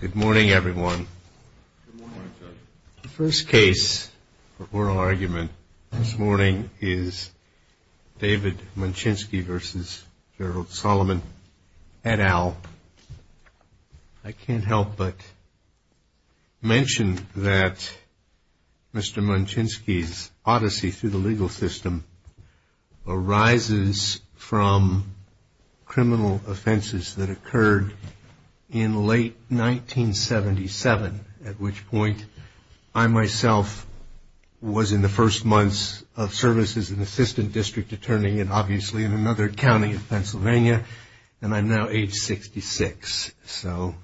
Good morning everyone. The first case for oral argument this morning is David Munchinski v. Gerald Solomon et al. I can't help but mention that Mr. Munchinski's offenses that occurred in late 1977, at which point I myself was in the first months of service as an assistant district attorney, and obviously in another county in Pennsylvania, and I'm now age 66. So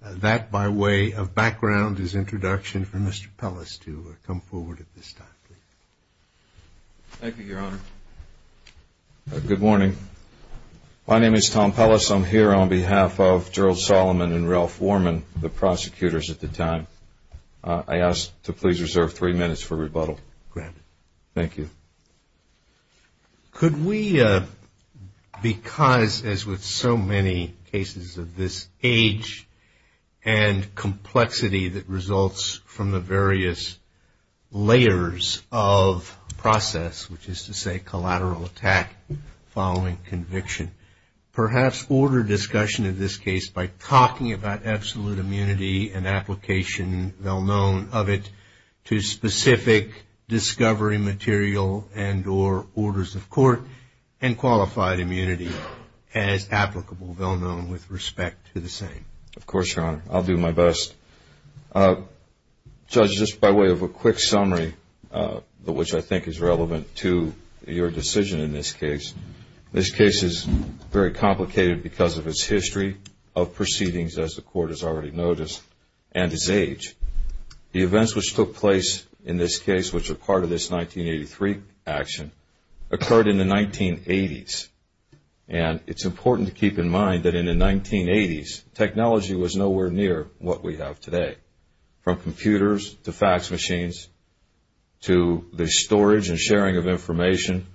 that by way of background is introduction for Mr. Pellis to come forward at this time. Thank you, Your Honor. Good morning. My name is Tom Pellis. I'm here on behalf of Gerald Solomon and Ralph Worman, the prosecutors at the time. I ask to please reserve three minutes for rebuttal. Granted. Thank you. Could we, because as with so many cases of this age and complexity that results from the various layers of process, which is to say collateral attack following conviction, perhaps order discussion of this case by talking about absolute immunity and application, well-known of it, to specific discovery material and origin? Or orders of court and qualified immunity as applicable, well-known with respect to the same? Of course, Your Honor. I'll do my best. Judge, just by way of a quick summary, which I think is relevant to your decision in this case, this case is very complicated because of its history of proceedings, as the court has already noticed, and its age. The events which took place in this case, which are part of this 1983 action, occurred in the 1980s. And it's important to keep in mind that in the 1980s, technology was nowhere near what we have today. From computers to fax machines to the storage and sharing of information,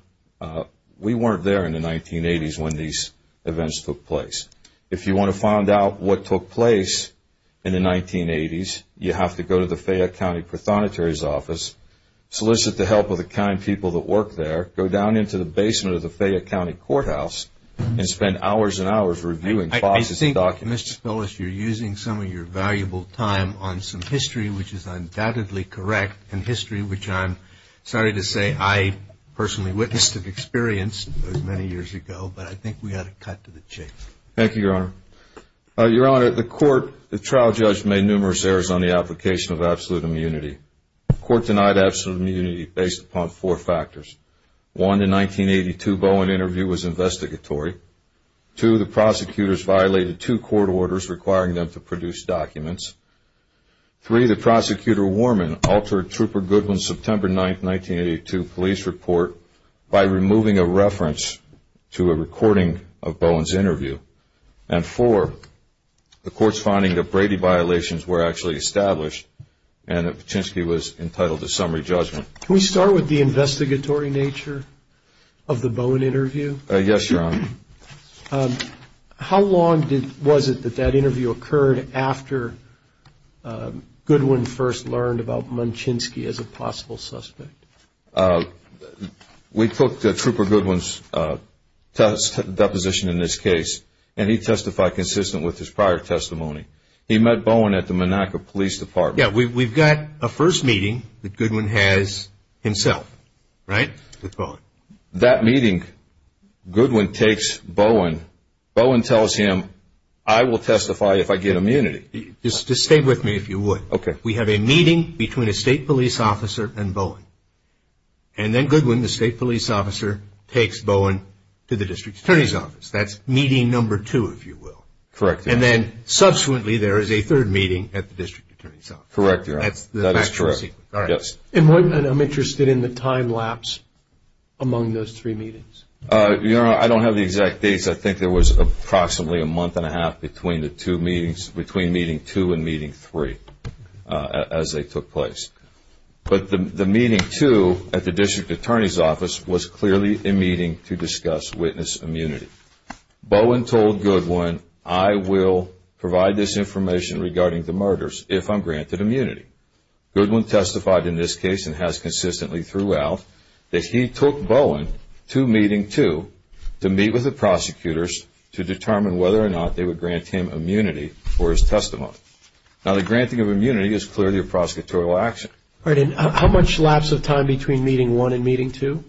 we weren't there in the 1980s when these events took place. If you want to find out what took place in the 1980s, you have to go to the Fayette County Prothonotary's office, solicit the help of the kind people that work there, go down into the basement of the Fayette County Courthouse, and spend hours and hours reviewing Fox's documents. Mr. Spellis, you're using some of your valuable time on some history which is undoubtedly correct, and history which I'm sorry to say I personally witnessed and experienced many years ago, but I think we ought to cut to the chase. Thank you, Your Honor. Your Honor, the trial judge made numerous errors on the application of absolute immunity. The court denied absolute immunity based upon four factors. One, in 1982, Bowen interview was investigatory. Two, the prosecutors violated two court orders requiring them to produce documents. Three, the prosecutor Warman altered Trooper Goodwin's September 9, 1982, police report by removing a reference to a recording of Bowen's interview. And four, the court's finding that Brady violations were actually established and that Paczynski was entitled to summary judgment. Can we start with the investigatory nature of the Bowen interview? Yes, Your Honor. How long was it that that interview occurred after Goodwin first learned about Paczynski as a possible suspect? We took Trooper Goodwin's deposition in this case, and he testified consistent with his prior testimony. He met Bowen at the Monaco Police Department. Yeah, we've got a first meeting that Goodwin has himself, right, with Bowen. That meeting, Goodwin takes Bowen. Bowen tells him, I will testify if I get immunity. Just stay with me, if you would. Okay. We have a meeting between a state police officer and Bowen. And then Goodwin, the state police officer, takes Bowen to the district attorney's office. That's meeting number two, if you will. Correct. And then, subsequently, there is a third meeting at the district attorney's office. Correct, Your Honor. That's the factual sequence. Yes. And I'm interested in the time lapse among those three meetings. Your Honor, I don't have the exact dates. I think there was approximately a month and a half between meeting two and meeting three as they took place. But the meeting two at the district attorney's office was clearly a meeting to discuss witness immunity. Bowen told Goodwin, I will provide this information regarding the murders if I'm granted immunity. Goodwin testified in this case and has consistently throughout that he took Bowen to meeting two to meet with the prosecutors to determine whether or not they would grant him immunity for his testimony. Now, the granting of immunity is clearly a prosecutorial action. All right. And how much lapse of time between meeting one and meeting two?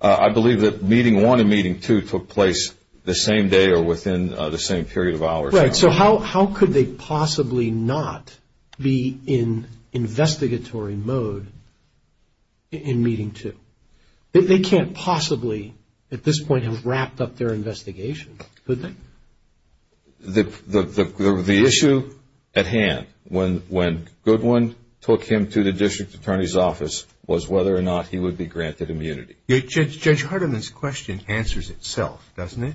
I believe that meeting one and meeting two took place the same day or within the same period of hours. Right. So how could they possibly not be in investigatory mode in meeting two? They can't possibly at this point have wrapped up their investigation, could they? The issue at hand when Goodwin took him to the district attorney's office was whether or not he would be granted immunity. Judge Hardiman's question answers itself, doesn't it?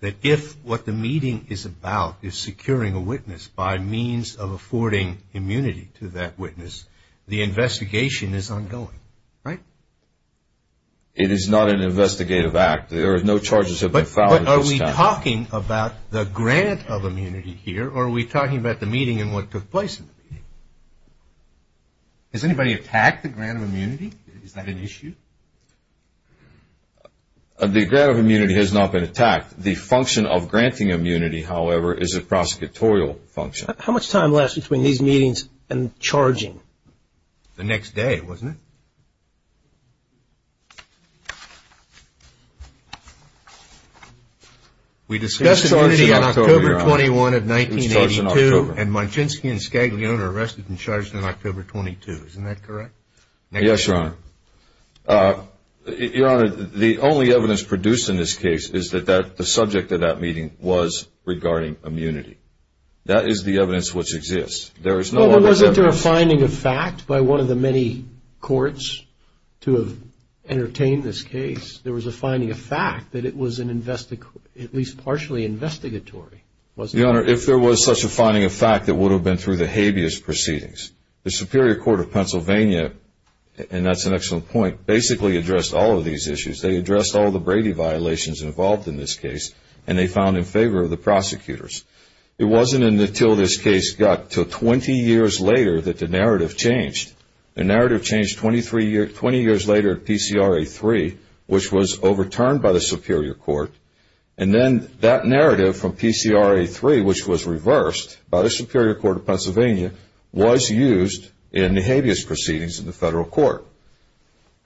That if what the meeting is about is securing a witness by means of affording immunity to that witness, the investigation is ongoing, right? It is not an investigative act. There are no charges have been filed against him. But are we talking about the grant of immunity here or are we talking about the meeting and what took place in the meeting? Has anybody attacked the grant of immunity? Is that an issue? The grant of immunity has not been attacked. The function of granting immunity, however, is a prosecutorial function. How much time lapse between these meetings and charging? The next day, wasn't it? We discussed immunity on October 21 of 1982. It was charged in October. And Majinski and Scaglione are arrested and charged on October 22. Isn't that correct? Yes, Your Honor. Your Honor, the only evidence produced in this case is that the subject of that meeting was regarding immunity. That is the evidence which exists. There is no other evidence. Well, wasn't there a finding of fact by one of the many courts to have entertained this case? There was a finding of fact that it was at least partially investigatory, wasn't there? Your Honor, if there was such a finding of fact, it would have been through the habeas proceedings. The Superior Court of Pennsylvania, and that's an excellent point, basically addressed all of these issues. They addressed all the Brady violations involved in this case, and they found in favor of the prosecutors. It wasn't until this case got to 20 years later that the narrative changed. The narrative changed 20 years later at PCRA 3, which was overturned by the Superior Court. And then that narrative from PCRA 3, which was reversed by the Superior Court of Pennsylvania, was used in the habeas proceedings in the federal court.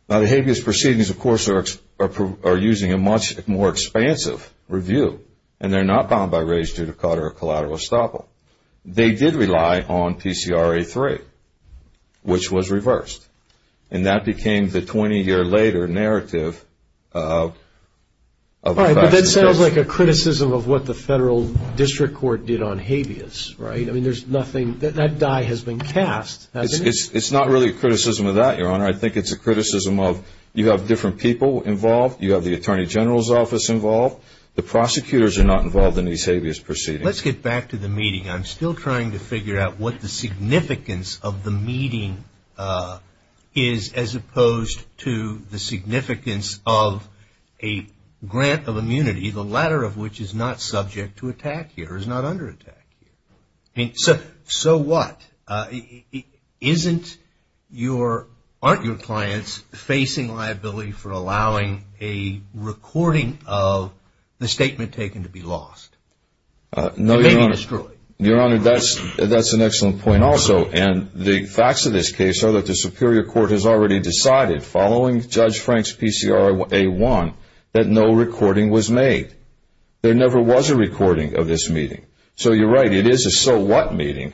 Now, the habeas proceedings, of course, are using a much more expansive review, and they're not bound by rege to the cutter or collateral estoppel. They did rely on PCRA 3, which was reversed, and that became the 20-year-later narrative of a faxing case. All right, but that sounds like a criticism of what the federal district court did on habeas, right? I mean, there's nothing. That die has been cast, hasn't it? It's not really a criticism of that, Your Honor. I think it's a criticism of you have different people involved. You have the attorney general's office involved. The prosecutors are not involved in these habeas proceedings. Let's get back to the meeting. I'm still trying to figure out what the significance of the meeting is, as opposed to the significance of a grant of immunity, the latter of which is not subject to attack here, is not under attack here. So what? Aren't your clients facing liability for allowing a recording of the statement taken to be lost? No, Your Honor. You mean destroyed? Your Honor, that's an excellent point also, and the facts of this case are that the superior court has already decided, following Judge Frank's PCRA 1, that no recording was made. There never was a recording of this meeting. So you're right, it is a so-what meeting.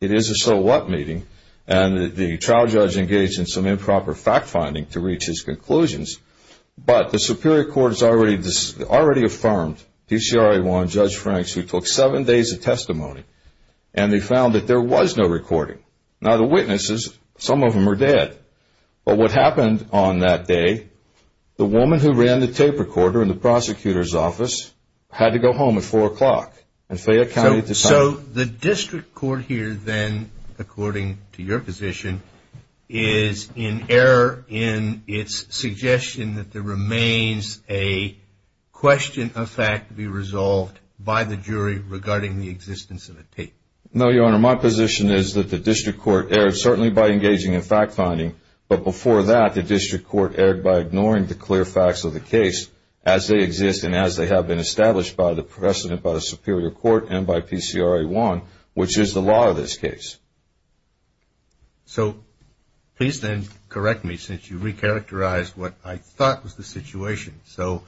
It is a so-what meeting, and the trial judge engaged in some improper fact-finding to reach his conclusions. But the superior court has already affirmed, PCRA 1, Judge Frank's, who took seven days of testimony, and they found that there was no recording. Now, the witnesses, some of them are dead. But what happened on that day, the woman who ran the tape recorder in the prosecutor's office had to go home at 4 o'clock. So the district court here then, according to your position, is in error in its suggestion that there remains a question of fact to be resolved by the jury regarding the existence of a tape. No, Your Honor. My position is that the district court erred certainly by engaging in fact-finding, but before that, the district court erred by ignoring the clear facts of the case as they exist and as they have been established by the precedent by the superior court and by PCRA 1, which is the law of this case. So please then correct me since you recharacterized what I thought was the situation. So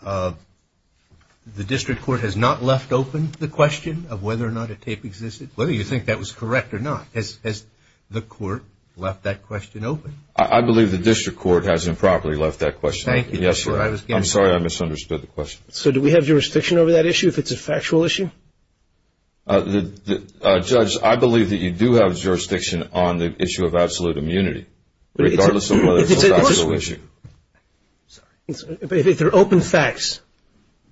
the district court has not left open the question of whether or not a tape existed, whether you think that was correct or not. Has the court left that question open? I believe the district court has improperly left that question open. Thank you. Yes, sir. I'm sorry I misunderstood the question. So do we have jurisdiction over that issue if it's a factual issue? Judge, I believe that you do have jurisdiction on the issue of absolute immunity, regardless of whether it's a factual issue. But if they're open facts,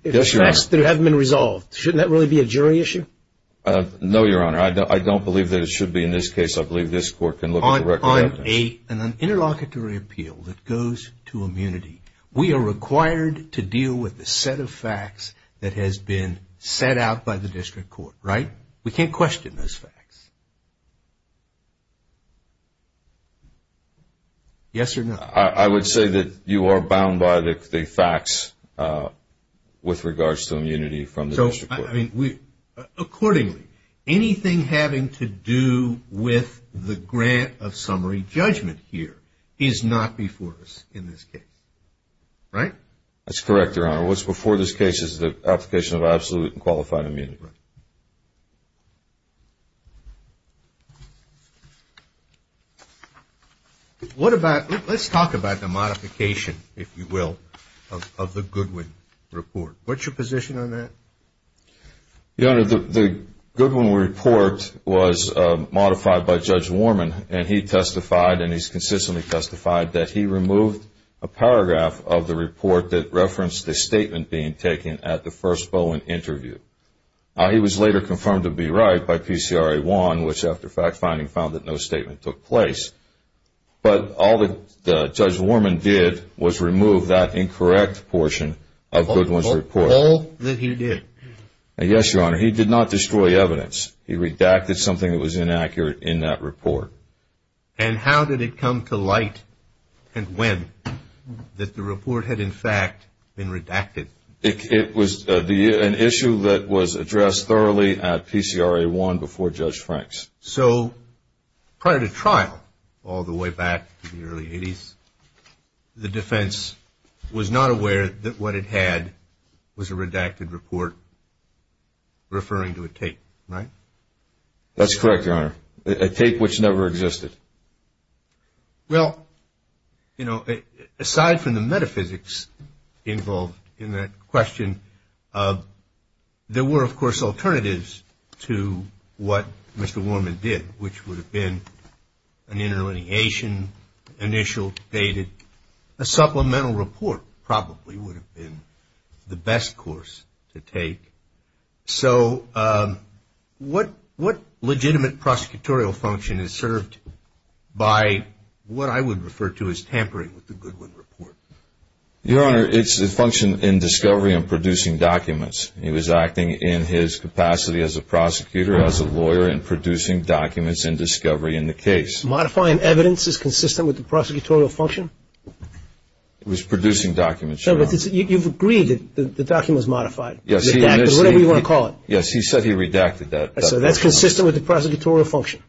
facts that haven't been resolved, shouldn't that really be a jury issue? No, Your Honor. I don't believe that it should be in this case. I believe this court can look at the record of evidence. On an interlocutory appeal that goes to immunity, we are required to deal with the set of facts that has been set out by the district court, right? We can't question those facts. Yes or no? I would say that you are bound by the facts with regards to immunity from the district court. Accordingly, anything having to do with the grant of summary judgment here is not before us in this case, right? That's correct, Your Honor. What's before this case is the application of absolute and qualified immunity. Let's talk about the modification, if you will, of the Goodwin report. What's your position on that? Your Honor, the Goodwin report was modified by Judge Warman, and he testified, and he's consistently testified, that he removed a paragraph of the report that referenced the statement being taken at the first Bowen interview. He was later confirmed to be right by PCRA 1, which, after fact-finding, found that no statement took place. But all that Judge Warman did was remove that incorrect portion of Goodwin's report. All that he did? Yes, Your Honor. He did not destroy evidence. He redacted something that was inaccurate in that report. And how did it come to light, and when, that the report had, in fact, been redacted? It was an issue that was addressed thoroughly at PCRA 1 before Judge Franks. So prior to trial, all the way back to the early 80s, the defense was not aware that what it had was a redacted report referring to a tape, right? That's correct, Your Honor, a tape which never existed. Well, you know, aside from the metaphysics involved in that question, there were, of course, alternatives to what Mr. Warman did, which would have been an interlineation, initial, dated. A supplemental report probably would have been the best course to take. So what legitimate prosecutorial function is served by what I would refer to as tampering with the Goodwin report? Your Honor, it's a function in discovery and producing documents. He was acting in his capacity as a prosecutor, as a lawyer, in producing documents in discovery in the case. Modifying evidence is consistent with the prosecutorial function? It was producing documents, Your Honor. So you've agreed that the document was modified, redacted, whatever you want to call it. Yes, he said he redacted that. So that's consistent with the prosecutorial function?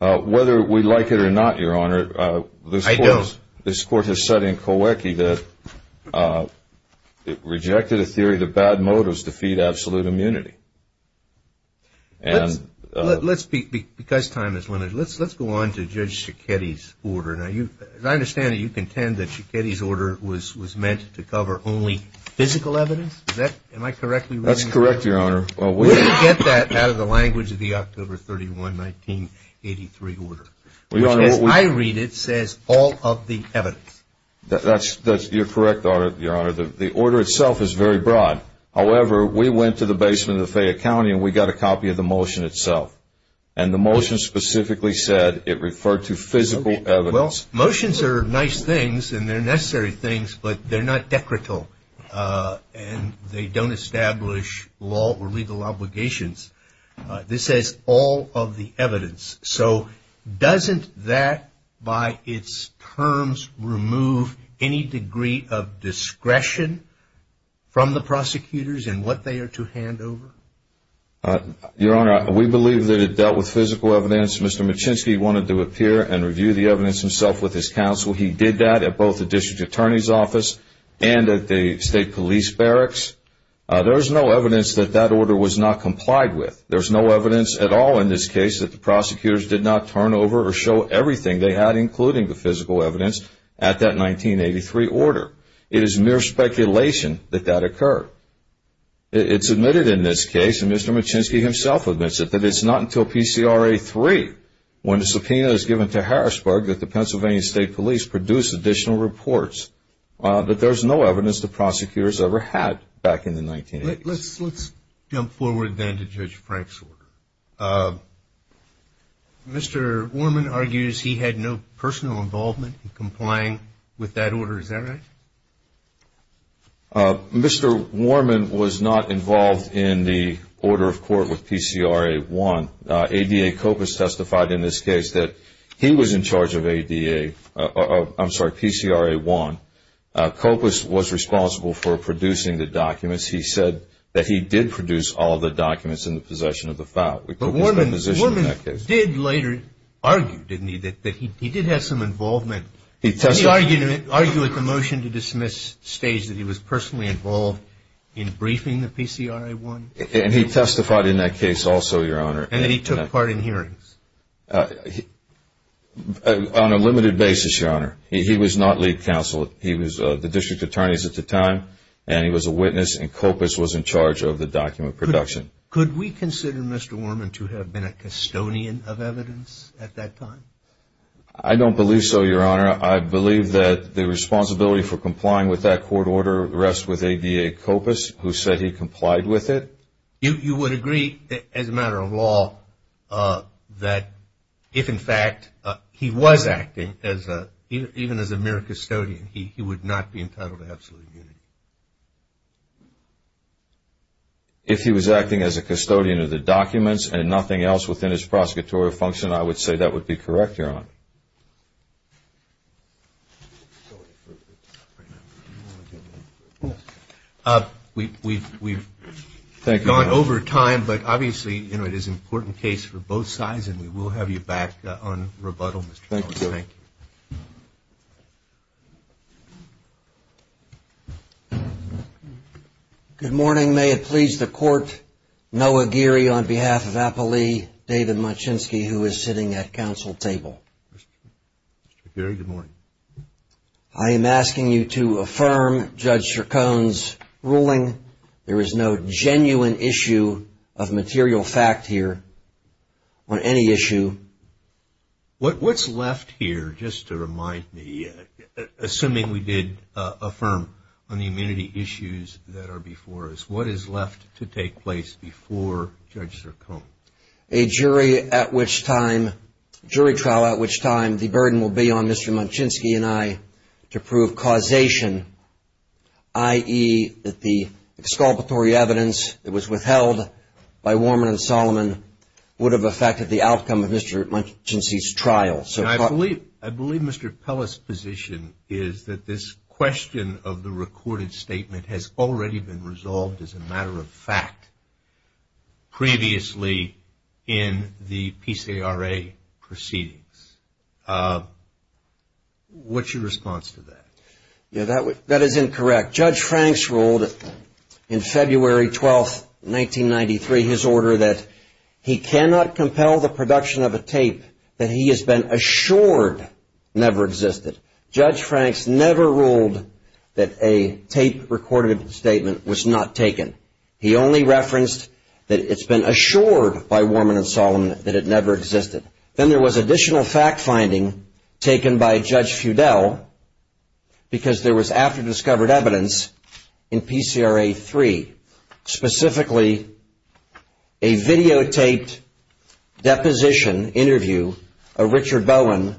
Whether we like it or not, Your Honor, this court has said in coercion, that it rejected a theory that bad motives defeat absolute immunity. Because time is limited, let's go on to Judge Schekete's order. Now, as I understand it, you contend that Schekete's order was meant to cover only physical evidence? Am I correctly reading that? That's correct, Your Honor. Well, where did you get that out of the language of the October 31, 1983 order? Which, as I read it, says all of the evidence. You're correct, Your Honor. The order itself is very broad. However, we went to the basement of the Fayette County, and we got a copy of the motion itself. And the motion specifically said it referred to physical evidence. Well, motions are nice things, and they're necessary things, but they're not decretal. And they don't establish law or legal obligations. This says all of the evidence. So doesn't that, by its terms, remove any degree of discretion from the prosecutors in what they are to hand over? Your Honor, we believe that it dealt with physical evidence. Mr. Machinsky wanted to appear and review the evidence himself with his counsel. He did that at both the district attorney's office and at the state police barracks. There is no evidence that that order was not complied with. There is no evidence at all in this case that the prosecutors did not turn over or show everything they had, including the physical evidence, at that 1983 order. It is mere speculation that that occurred. It's admitted in this case, and Mr. Machinsky himself admits it, that it's not until PCRA 3, when the subpoena is given to Harrisburg, that the Pennsylvania State Police produce additional reports. But there's no evidence the prosecutors ever had back in the 1980s. Let's jump forward then to Judge Frank's order. Mr. Warman argues he had no personal involvement in complying with that order. Is that right? Mr. Warman was not involved in the order of court with PCRA 1. ADA COPUS testified in this case that he was in charge of PCRA 1. COPUS was responsible for producing the documents. He said that he did produce all the documents in the possession of the foul. But Warman did later argue, didn't he, that he did have some involvement. Did he argue at the motion-to-dismiss stage that he was personally involved in briefing the PCRA 1? And he testified in that case also, Your Honor. And that he took part in hearings? On a limited basis, Your Honor. He was not lead counsel. He was the district attorney at the time, and he was a witness. And COPUS was in charge of the document production. Could we consider Mr. Warman to have been a custodian of evidence at that time? I don't believe so, Your Honor. I believe that the responsibility for complying with that court order rests with ADA COPUS, who said he complied with it. You would agree, as a matter of law, that if, in fact, he was acting, even as a mere custodian, he would not be entitled to absolute immunity. If he was acting as a custodian of the documents and nothing else within his prosecutorial function, I would say that would be correct, Your Honor. We've gone over time, but obviously it is an important case for both sides, and we will have you back on rebuttal, Mr. Collins. Thank you, Your Honor. Thank you. Good morning. May it please the Court, Noah Geary on behalf of Appley, David Machinsky, who is sitting at counsel table. Mr. Geary, good morning. I am asking you to affirm Judge Chacon's ruling. There is no genuine issue of material fact here on any issue. What's left here, just to remind me, assuming we did affirm on the immunity issues that are before us, what is left to take place before Judge Chacon? A jury at which time, jury trial at which time, the burden will be on Mr. Machinsky and I to prove causation, i.e., that the exculpatory evidence that was withheld by Warman and Solomon would have affected the outcome of Mr. Machinsky's trial. I believe Mr. Pellis' position is that this question of the recorded statement has already been resolved as a matter of fact previously in the PCRA proceedings. What's your response to that? That is incorrect. Judge Franks ruled in February 12th, 1993, his order that he cannot compel the production of a tape that he has been assured never existed. Judge Franks never ruled that a tape-recorded statement was not taken. He only referenced that it's been assured by Warman and Solomon that it never existed. Then there was additional fact-finding taken by Judge Feudel because there was after-discovered evidence in PCRA 3, specifically a videotaped deposition interview of Richard Bowen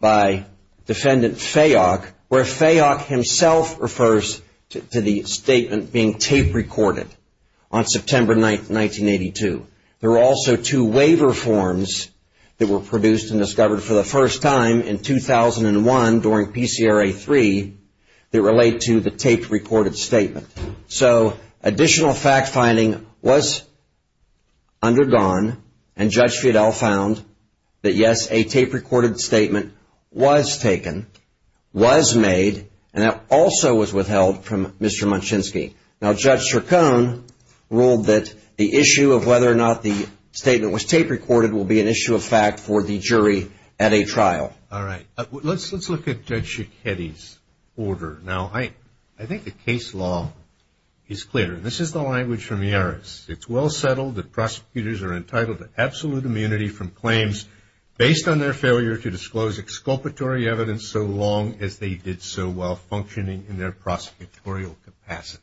by Defendant Fayok, where Fayok himself refers to the statement being tape-recorded on September 9th, 1982. There were also two waiver forms that were produced and discovered for the first time in 2001 during PCRA 3 that relate to the tape-recorded statement. So additional fact-finding was undergone, and Judge Feudel found that, yes, a tape-recorded statement was taken, was made, and that also was withheld from Mr. Machinsky. Now, Judge Chacon ruled that the issue of whether or not the statement was tape-recorded will be an issue of fact for the jury at a trial. All right. Let's look at Judge Schichetti's order. Now, I think the case law is clear. This is the language from Yaris. It's well settled that prosecutors are entitled to absolute immunity from claims based on their failure to disclose exculpatory evidence so long as they did so while functioning in their prosecutorial capacity.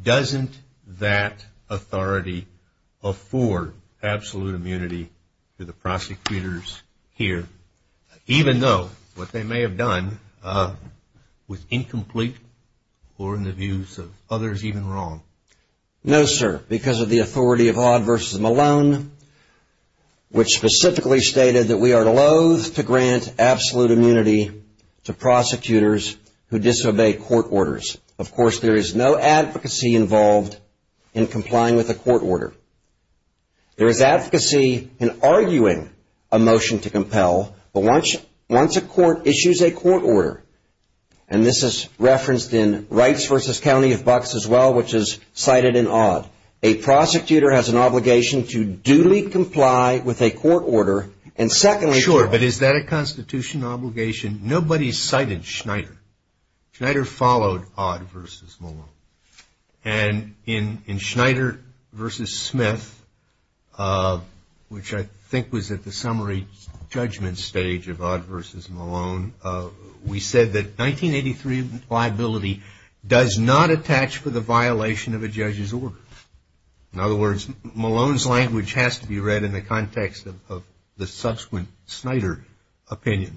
Doesn't that authority afford absolute immunity to the prosecutors here, even though what they may have done was incomplete or, in the views of others, even wrong? No, sir, because of the authority of Hodd v. Malone, which specifically stated that we are loathe to grant absolute immunity to prosecutors who disobey court orders. Of course, there is no advocacy involved in complying with a court order. There is advocacy in arguing a motion to compel, but once a court issues a court order, and this is referenced in Wrights v. County of Bucks as well, which is cited in Hodd, a prosecutor has an obligation to duly comply with a court order, and secondly to Sure, but is that a constitutional obligation? Nobody cited Schneider. Schneider followed Hodd v. Malone. And in Schneider v. Smith, which I think was at the summary judgment stage of Hodd v. Malone, we said that 1983 liability does not attach to the violation of a judge's order. In other words, Malone's language has to be read in the context of the subsequent Schneider opinion.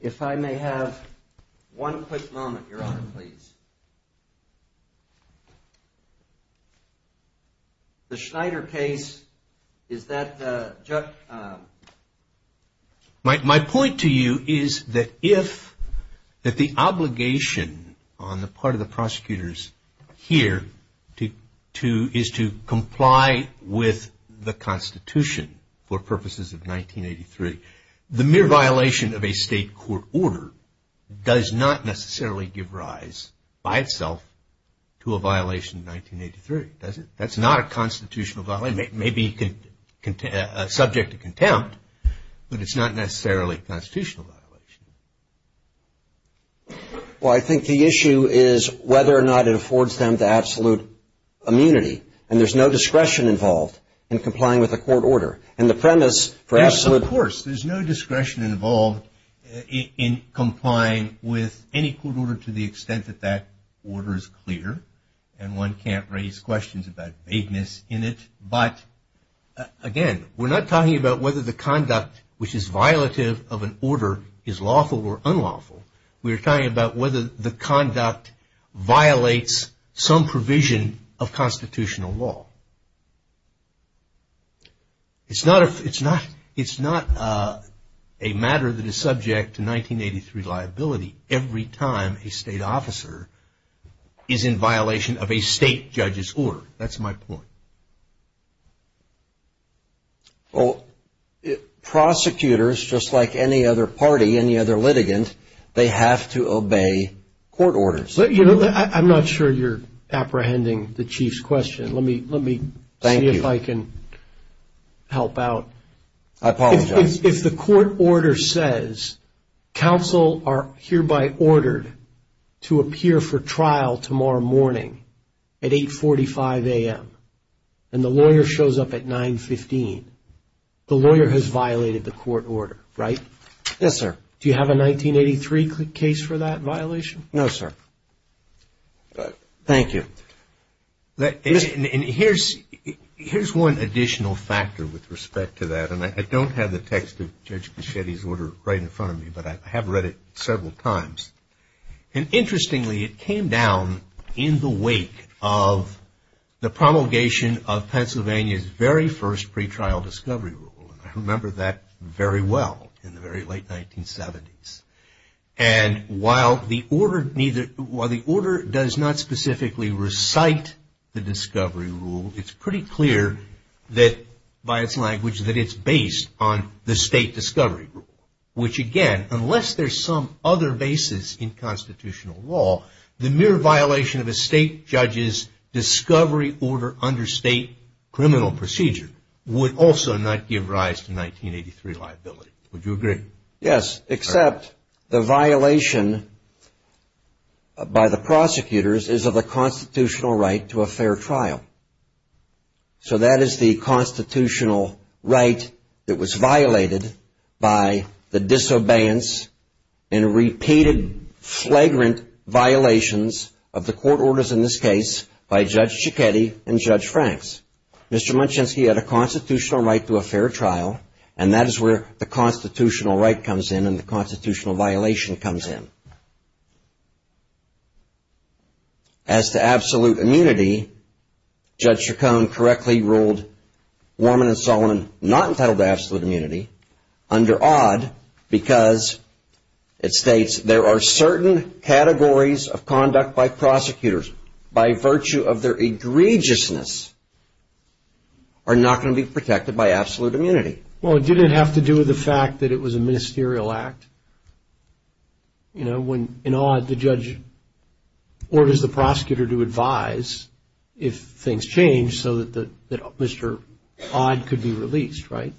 If I may have one quick moment, Your Honor, please. The Schneider case, is that? My point to you is that if the obligation on the part of the prosecutors here is to comply with the Constitution for purposes of 1983, the mere violation of a state court order does not necessarily give rise, by itself, to a violation of 1983, does it? That's not a constitutional violation. It may be subject to contempt, but it's not necessarily a constitutional violation. Well, I think the issue is whether or not it affords them the absolute immunity, and there's no discretion involved in complying with a court order, and the premise for absolute Well, of course, there's no discretion involved in complying with any court order to the extent that that order is clear, and one can't raise questions about vagueness in it. But, again, we're not talking about whether the conduct which is violative of an order is lawful or unlawful. We're talking about whether the conduct violates some provision of constitutional law. It's not a matter that is subject to 1983 liability every time a state officer is in violation of a state judge's order. That's my point. Well, prosecutors, just like any other party, any other litigant, they have to obey court orders. I'm not sure you're apprehending the Chief's question. Let me see if I can help out. I apologize. If the court order says counsel are hereby ordered to appear for trial tomorrow morning at 8.45 a.m. and the lawyer shows up at 9.15, the lawyer has violated the court order, right? Yes, sir. Do you have a 1983 case for that violation? No, sir. Thank you. And here's one additional factor with respect to that. And I don't have the text of Judge Caccietti's order right in front of me, but I have read it several times. And, interestingly, it came down in the wake of the promulgation of Pennsylvania's very first pretrial discovery rule. I remember that very well in the very late 1970s. And while the order does not specifically recite the discovery rule, it's pretty clear that, by its language, that it's based on the state discovery rule, which, again, unless there's some other basis in constitutional law, the mere violation of a state judge's discovery order under state criminal procedure would also not give rise to 1983 liability. Would you agree? Yes, except the violation by the prosecutors is of a constitutional right to a fair trial. So that is the constitutional right that was violated by the disobeyance and repeated flagrant violations of the court orders, in this case, by Judge Caccietti and Judge Franks. Mr. Munchensky had a constitutional right to a fair trial, and that is where the constitutional right comes in and the constitutional violation comes in. As to absolute immunity, Judge Chacon correctly ruled Warman and Solomon not entitled to absolute immunity under odd because it states there are certain categories of conduct by prosecutors by virtue of their egregiousness are not going to be protected by absolute immunity. Well, it didn't have to do with the fact that it was a ministerial act. You know, in odd, the judge orders the prosecutor to advise if things change so that Mr. Odd could be released, right?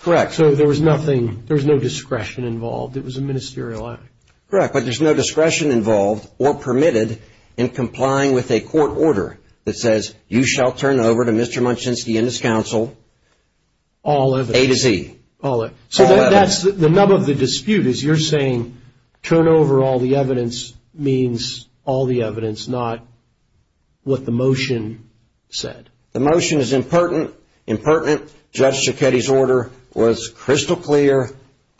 Correct. So there was nothing, there was no discretion involved. It was a ministerial act. Correct, but there's no discretion involved or permitted in complying with a court order that says, you shall turn over to Mr. Munchensky and his counsel all evidence. A to Z. So that's the nub of the dispute is you're saying turn over all the evidence means all the evidence, not what the motion said. The motion is impertinent. Impertinent, Judge Cecchetti's order was crystal clear,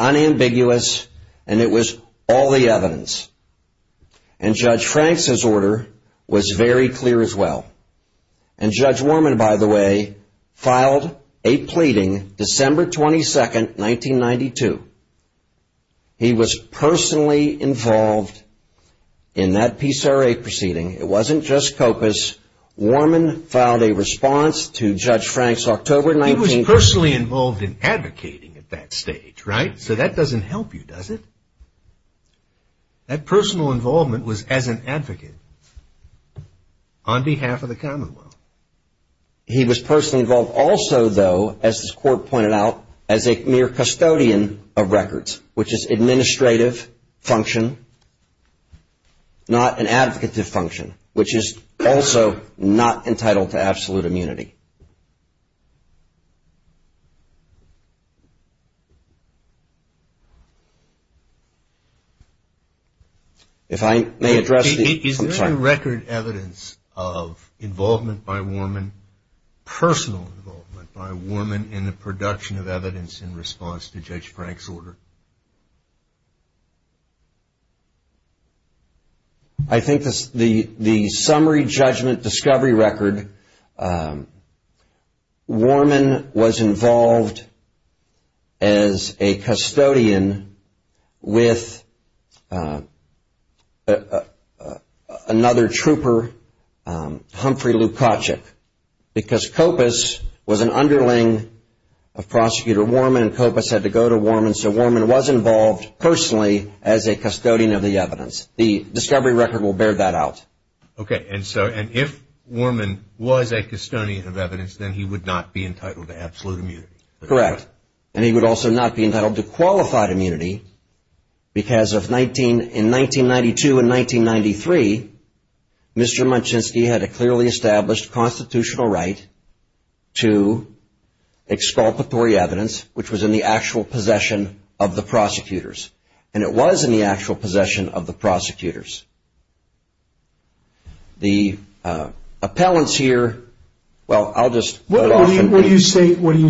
unambiguous, and it was all the evidence. And Judge Frank's order was very clear as well. And Judge Warman, by the way, filed a pleading December 22, 1992. He was personally involved in that PCRA proceeding. It wasn't just COPAs. Warman filed a response to Judge Frank's October 19th. He was personally involved in advocating at that stage, right? So that doesn't help you, does it? That personal involvement was as an advocate on behalf of the commonwealth. He was personally involved also, though, as this court pointed out, as a mere custodian of records, which is administrative function, not an advocative function, which is also not entitled to absolute immunity. If I may address the – Is there any record evidence of involvement by Warman, personal involvement by Warman, in the production of evidence in response to Judge Frank's order? I think the summary judgment discovery record, Warman was involved as a custodian with another trooper, Humphrey Lukachuk, because COPAs was an underling of Prosecutor Warman and COPAs had to go to Warman, so Warman was involved personally as a custodian of the evidence. The discovery record will bear that out. Okay. And so if Warman was a custodian of evidence, then he would not be entitled to absolute immunity. Correct. And he would also not be entitled to qualified immunity because in 1992 and 1993, Mr. Munchinsky had a clearly established constitutional right to exculpatory evidence, which was in the actual possession of the prosecutors, and it was in the actual possession of the prosecutors. The appellants here – well, I'll just – What do you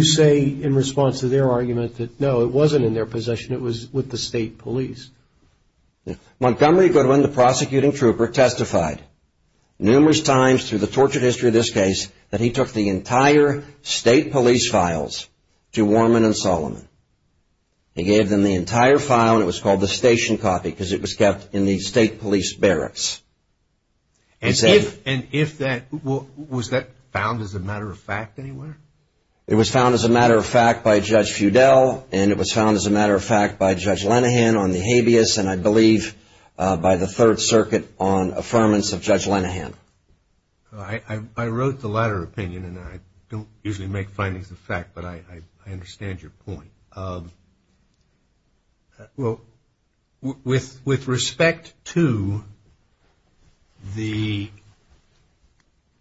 say in response to their argument that, no, it wasn't in their possession, it was with the state police? Montgomery Goodwin, the prosecuting trooper, testified numerous times through the tortured history of this case that he took the entire state police files to Warman and Solomon. He gave them the entire file, and it was called the station copy because it was kept in the state police barracks. And if that – was that found as a matter of fact anywhere? It was found as a matter of fact by Judge Feudal, and it was found as a matter of fact by Judge Lenahan on the habeas, and I believe by the Third Circuit on affirmance of Judge Lenahan. I wrote the latter opinion, and I don't usually make findings of fact, but I understand your point. Well, with respect to the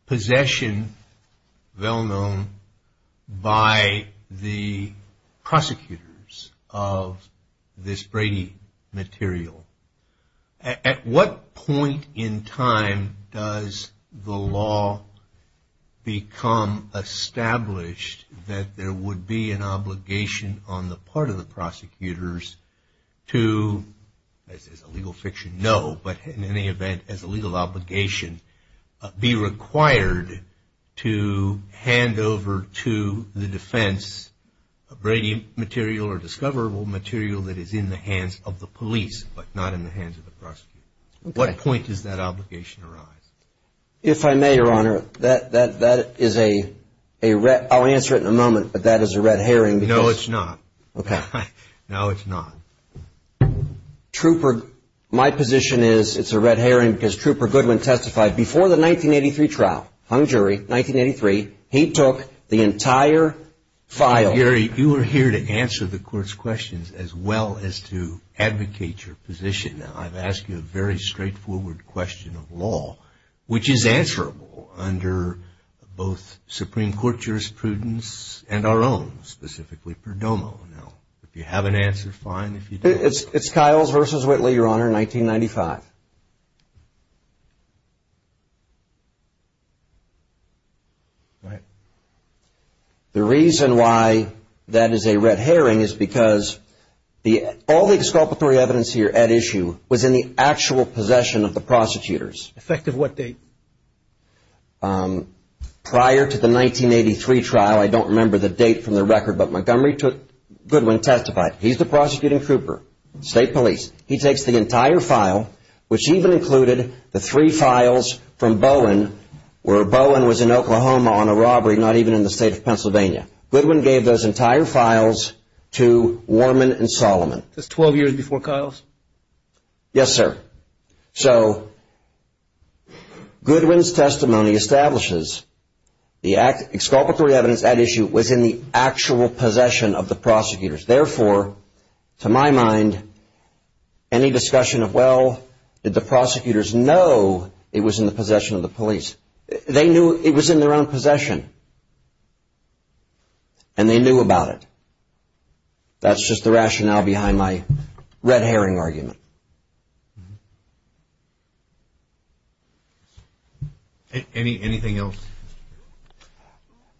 possession, well known, by the prosecutors of this Brady material, at what point in time does the law become established that there would be an obligation on the part of the prosecutors to, as a legal fiction, no, but in any event, as a legal obligation, be required to hand over to the defense a Brady material or discoverable material that is in the hands of the police, but not in the hands of the prosecutors. At what point does that obligation arise? If I may, Your Honor, that is a – I'll answer it in a moment, but that is a red herring. No, it's not. Okay. No, it's not. Trooper – my position is it's a red herring because Trooper Goodwin testified before the 1983 trial, hung jury, 1983. He took the entire file. Gary, you are here to answer the court's questions as well as to advocate your position. Now, I've asked you a very straightforward question of law, which is answerable under both Supreme Court jurisprudence and our own, specifically Perdomo. Now, if you have an answer, fine, if you don't. It's Kyles v. Whitley, Your Honor, 1995. Right. The reason why that is a red herring is because all the exculpatory evidence here at issue was in the actual possession of the prosecutors. Effective what date? Prior to the 1983 trial, I don't remember the date from the record, but Montgomery took – Goodwin testified. He's the prosecuting trooper, state police. He takes the entire file, which even included the three files from Bowen, where Bowen was in Oklahoma on a robbery, not even in the state of Pennsylvania. Goodwin gave those entire files to Warman and Solomon. That's 12 years before Kyles? Yes, sir. So Goodwin's testimony establishes the exculpatory evidence at issue was in the actual possession of the prosecutors. Therefore, to my mind, any discussion of, well, did the prosecutors know it was in the possession of the police? They knew it was in their own possession, and they knew about it. That's just the rationale behind my red herring argument. Anything else?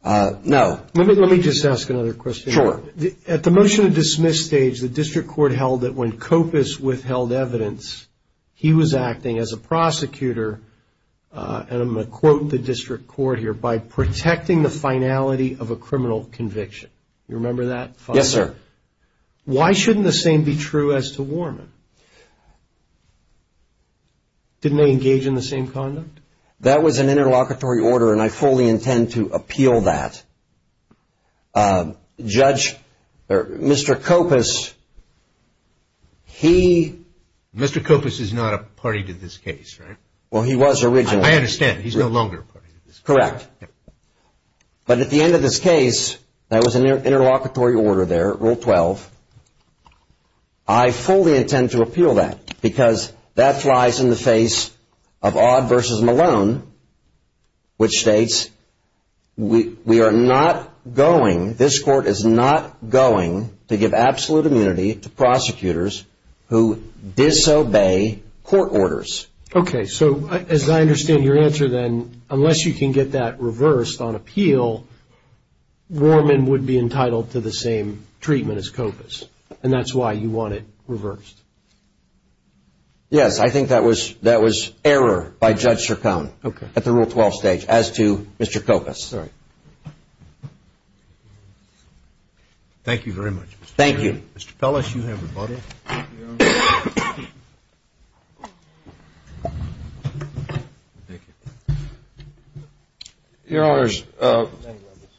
No. Let me just ask another question. Sure. At the motion to dismiss stage, the district court held that when Kopis withheld evidence, he was acting as a prosecutor, and I'm going to quote the district court here, by protecting the finality of a criminal conviction. You remember that? Yes, sir. Why shouldn't the same be true as to Warman? Didn't they engage in the same conduct? That was an interlocutory order, and I fully intend to appeal that. Judge, Mr. Kopis, he… Mr. Kopis is not a party to this case, right? Well, he was originally. I understand. He's no longer a party to this case. Correct. But at the end of this case, that was an interlocutory order there, Rule 12. I fully intend to appeal that, because that flies in the face of Odd v. Malone, which states we are not going, this court is not going, to give absolute immunity to prosecutors who disobey court orders. Okay. So, as I understand your answer, then, unless you can get that reversed on appeal, Warman would be entitled to the same treatment as Kopis, and that's why you want it reversed. Yes, I think that was error by Judge Sircone at the Rule 12 stage as to Mr. Kopis. Sorry. Thank you very much. Thank you. Mr. Pellis, you have rebuttal. Thank you. Your Honors,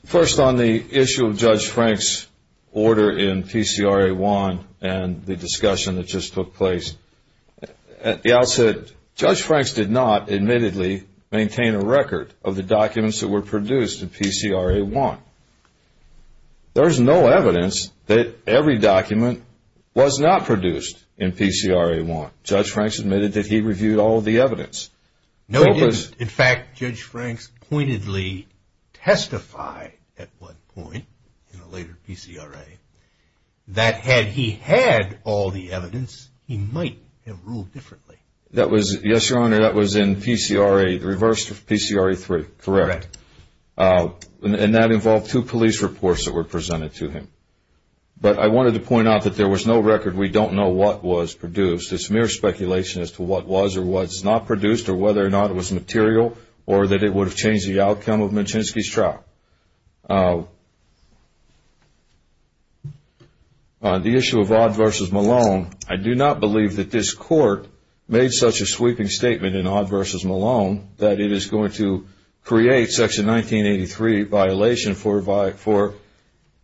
first on the issue of Judge Frank's order in PCRA 1 and the discussion that just took place. At the outset, Judge Franks did not, admittedly, maintain a record of the documents that were produced in PCRA 1. There is no evidence that every document was not produced in PCRA 1. In fact, Judge Franks pointedly testified at one point in a later PCRA that had he had all the evidence, he might have ruled differently. Yes, Your Honor, that was in PCRA, the reverse of PCRA 3. Correct. And that involved two police reports that were presented to him. But I wanted to point out that there was no record. We don't know what was produced. It's mere speculation as to what was or was not produced or whether or not it was material or that it would have changed the outcome of Manchinski's trial. On the issue of Odd v. Malone, I do not believe that this Court made such a sweeping statement in Odd v. Malone that it is going to create Section 1983 violation for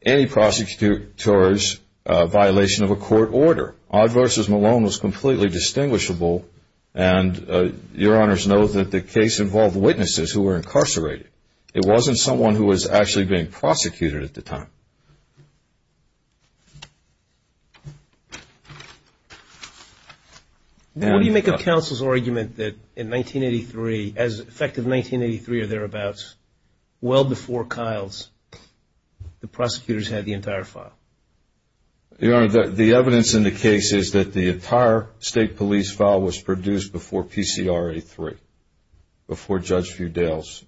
any prosecutor's violation of a court order. Odd v. Malone was completely distinguishable, and Your Honors know that the case involved witnesses who were incarcerated. It wasn't someone who was actually being prosecuted at the time. What do you make of counsel's argument that in 1983, as effective 1983 or thereabouts, well before Kyle's, the prosecutors had the entire file? Your Honor, the evidence in the case is that the entire state police file was produced before PCRA 3, before Judge Fudale's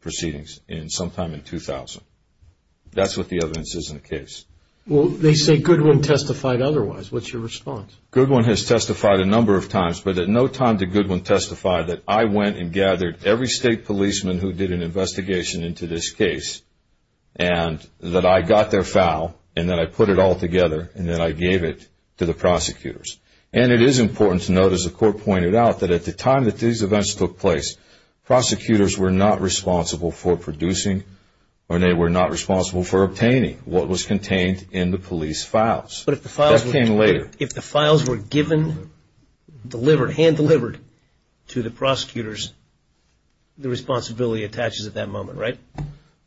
proceedings sometime in 2000. That's what the evidence is in the case. Well, they say Goodwin testified otherwise. What's your response? Goodwin has testified a number of times, but at no time did Goodwin testify that I went and gathered every state policeman who did an investigation into this case and that I got their file and that I put it all together and that I gave it to the prosecutors. And it is important to note, as the Court pointed out, that at the time that these events took place, prosecutors were not responsible for producing or they were not responsible for obtaining what was contained in the police files. But if the files were given, delivered, hand-delivered to the prosecutors, the responsibility attaches at that moment, right?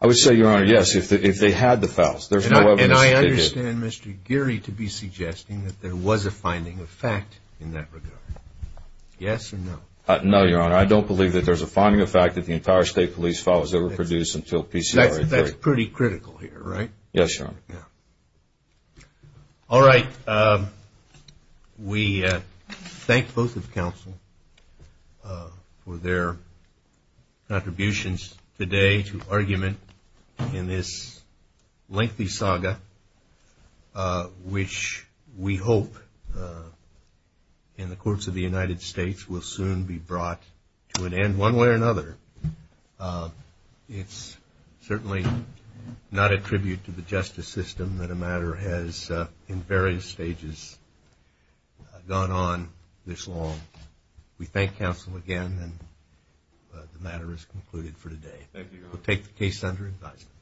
I would say, Your Honor, yes, if they had the files. And I understand Mr. Geary to be suggesting that there was a finding of fact in that regard. Yes or no? No, Your Honor, I don't believe that there's a finding of fact that the entire state police file was ever produced until PCRA 3. That's pretty critical here, right? Yes, Your Honor. All right. We thank both of counsel for their contributions today to argument in this lengthy saga, which we hope in the courts of the United States will soon be brought to an end one way or another. It's certainly not a tribute to the justice system that a matter has, in various stages, gone on this long. We thank counsel again, and the matter is concluded for today. Thank you, Your Honor. We'll take the case under advisement.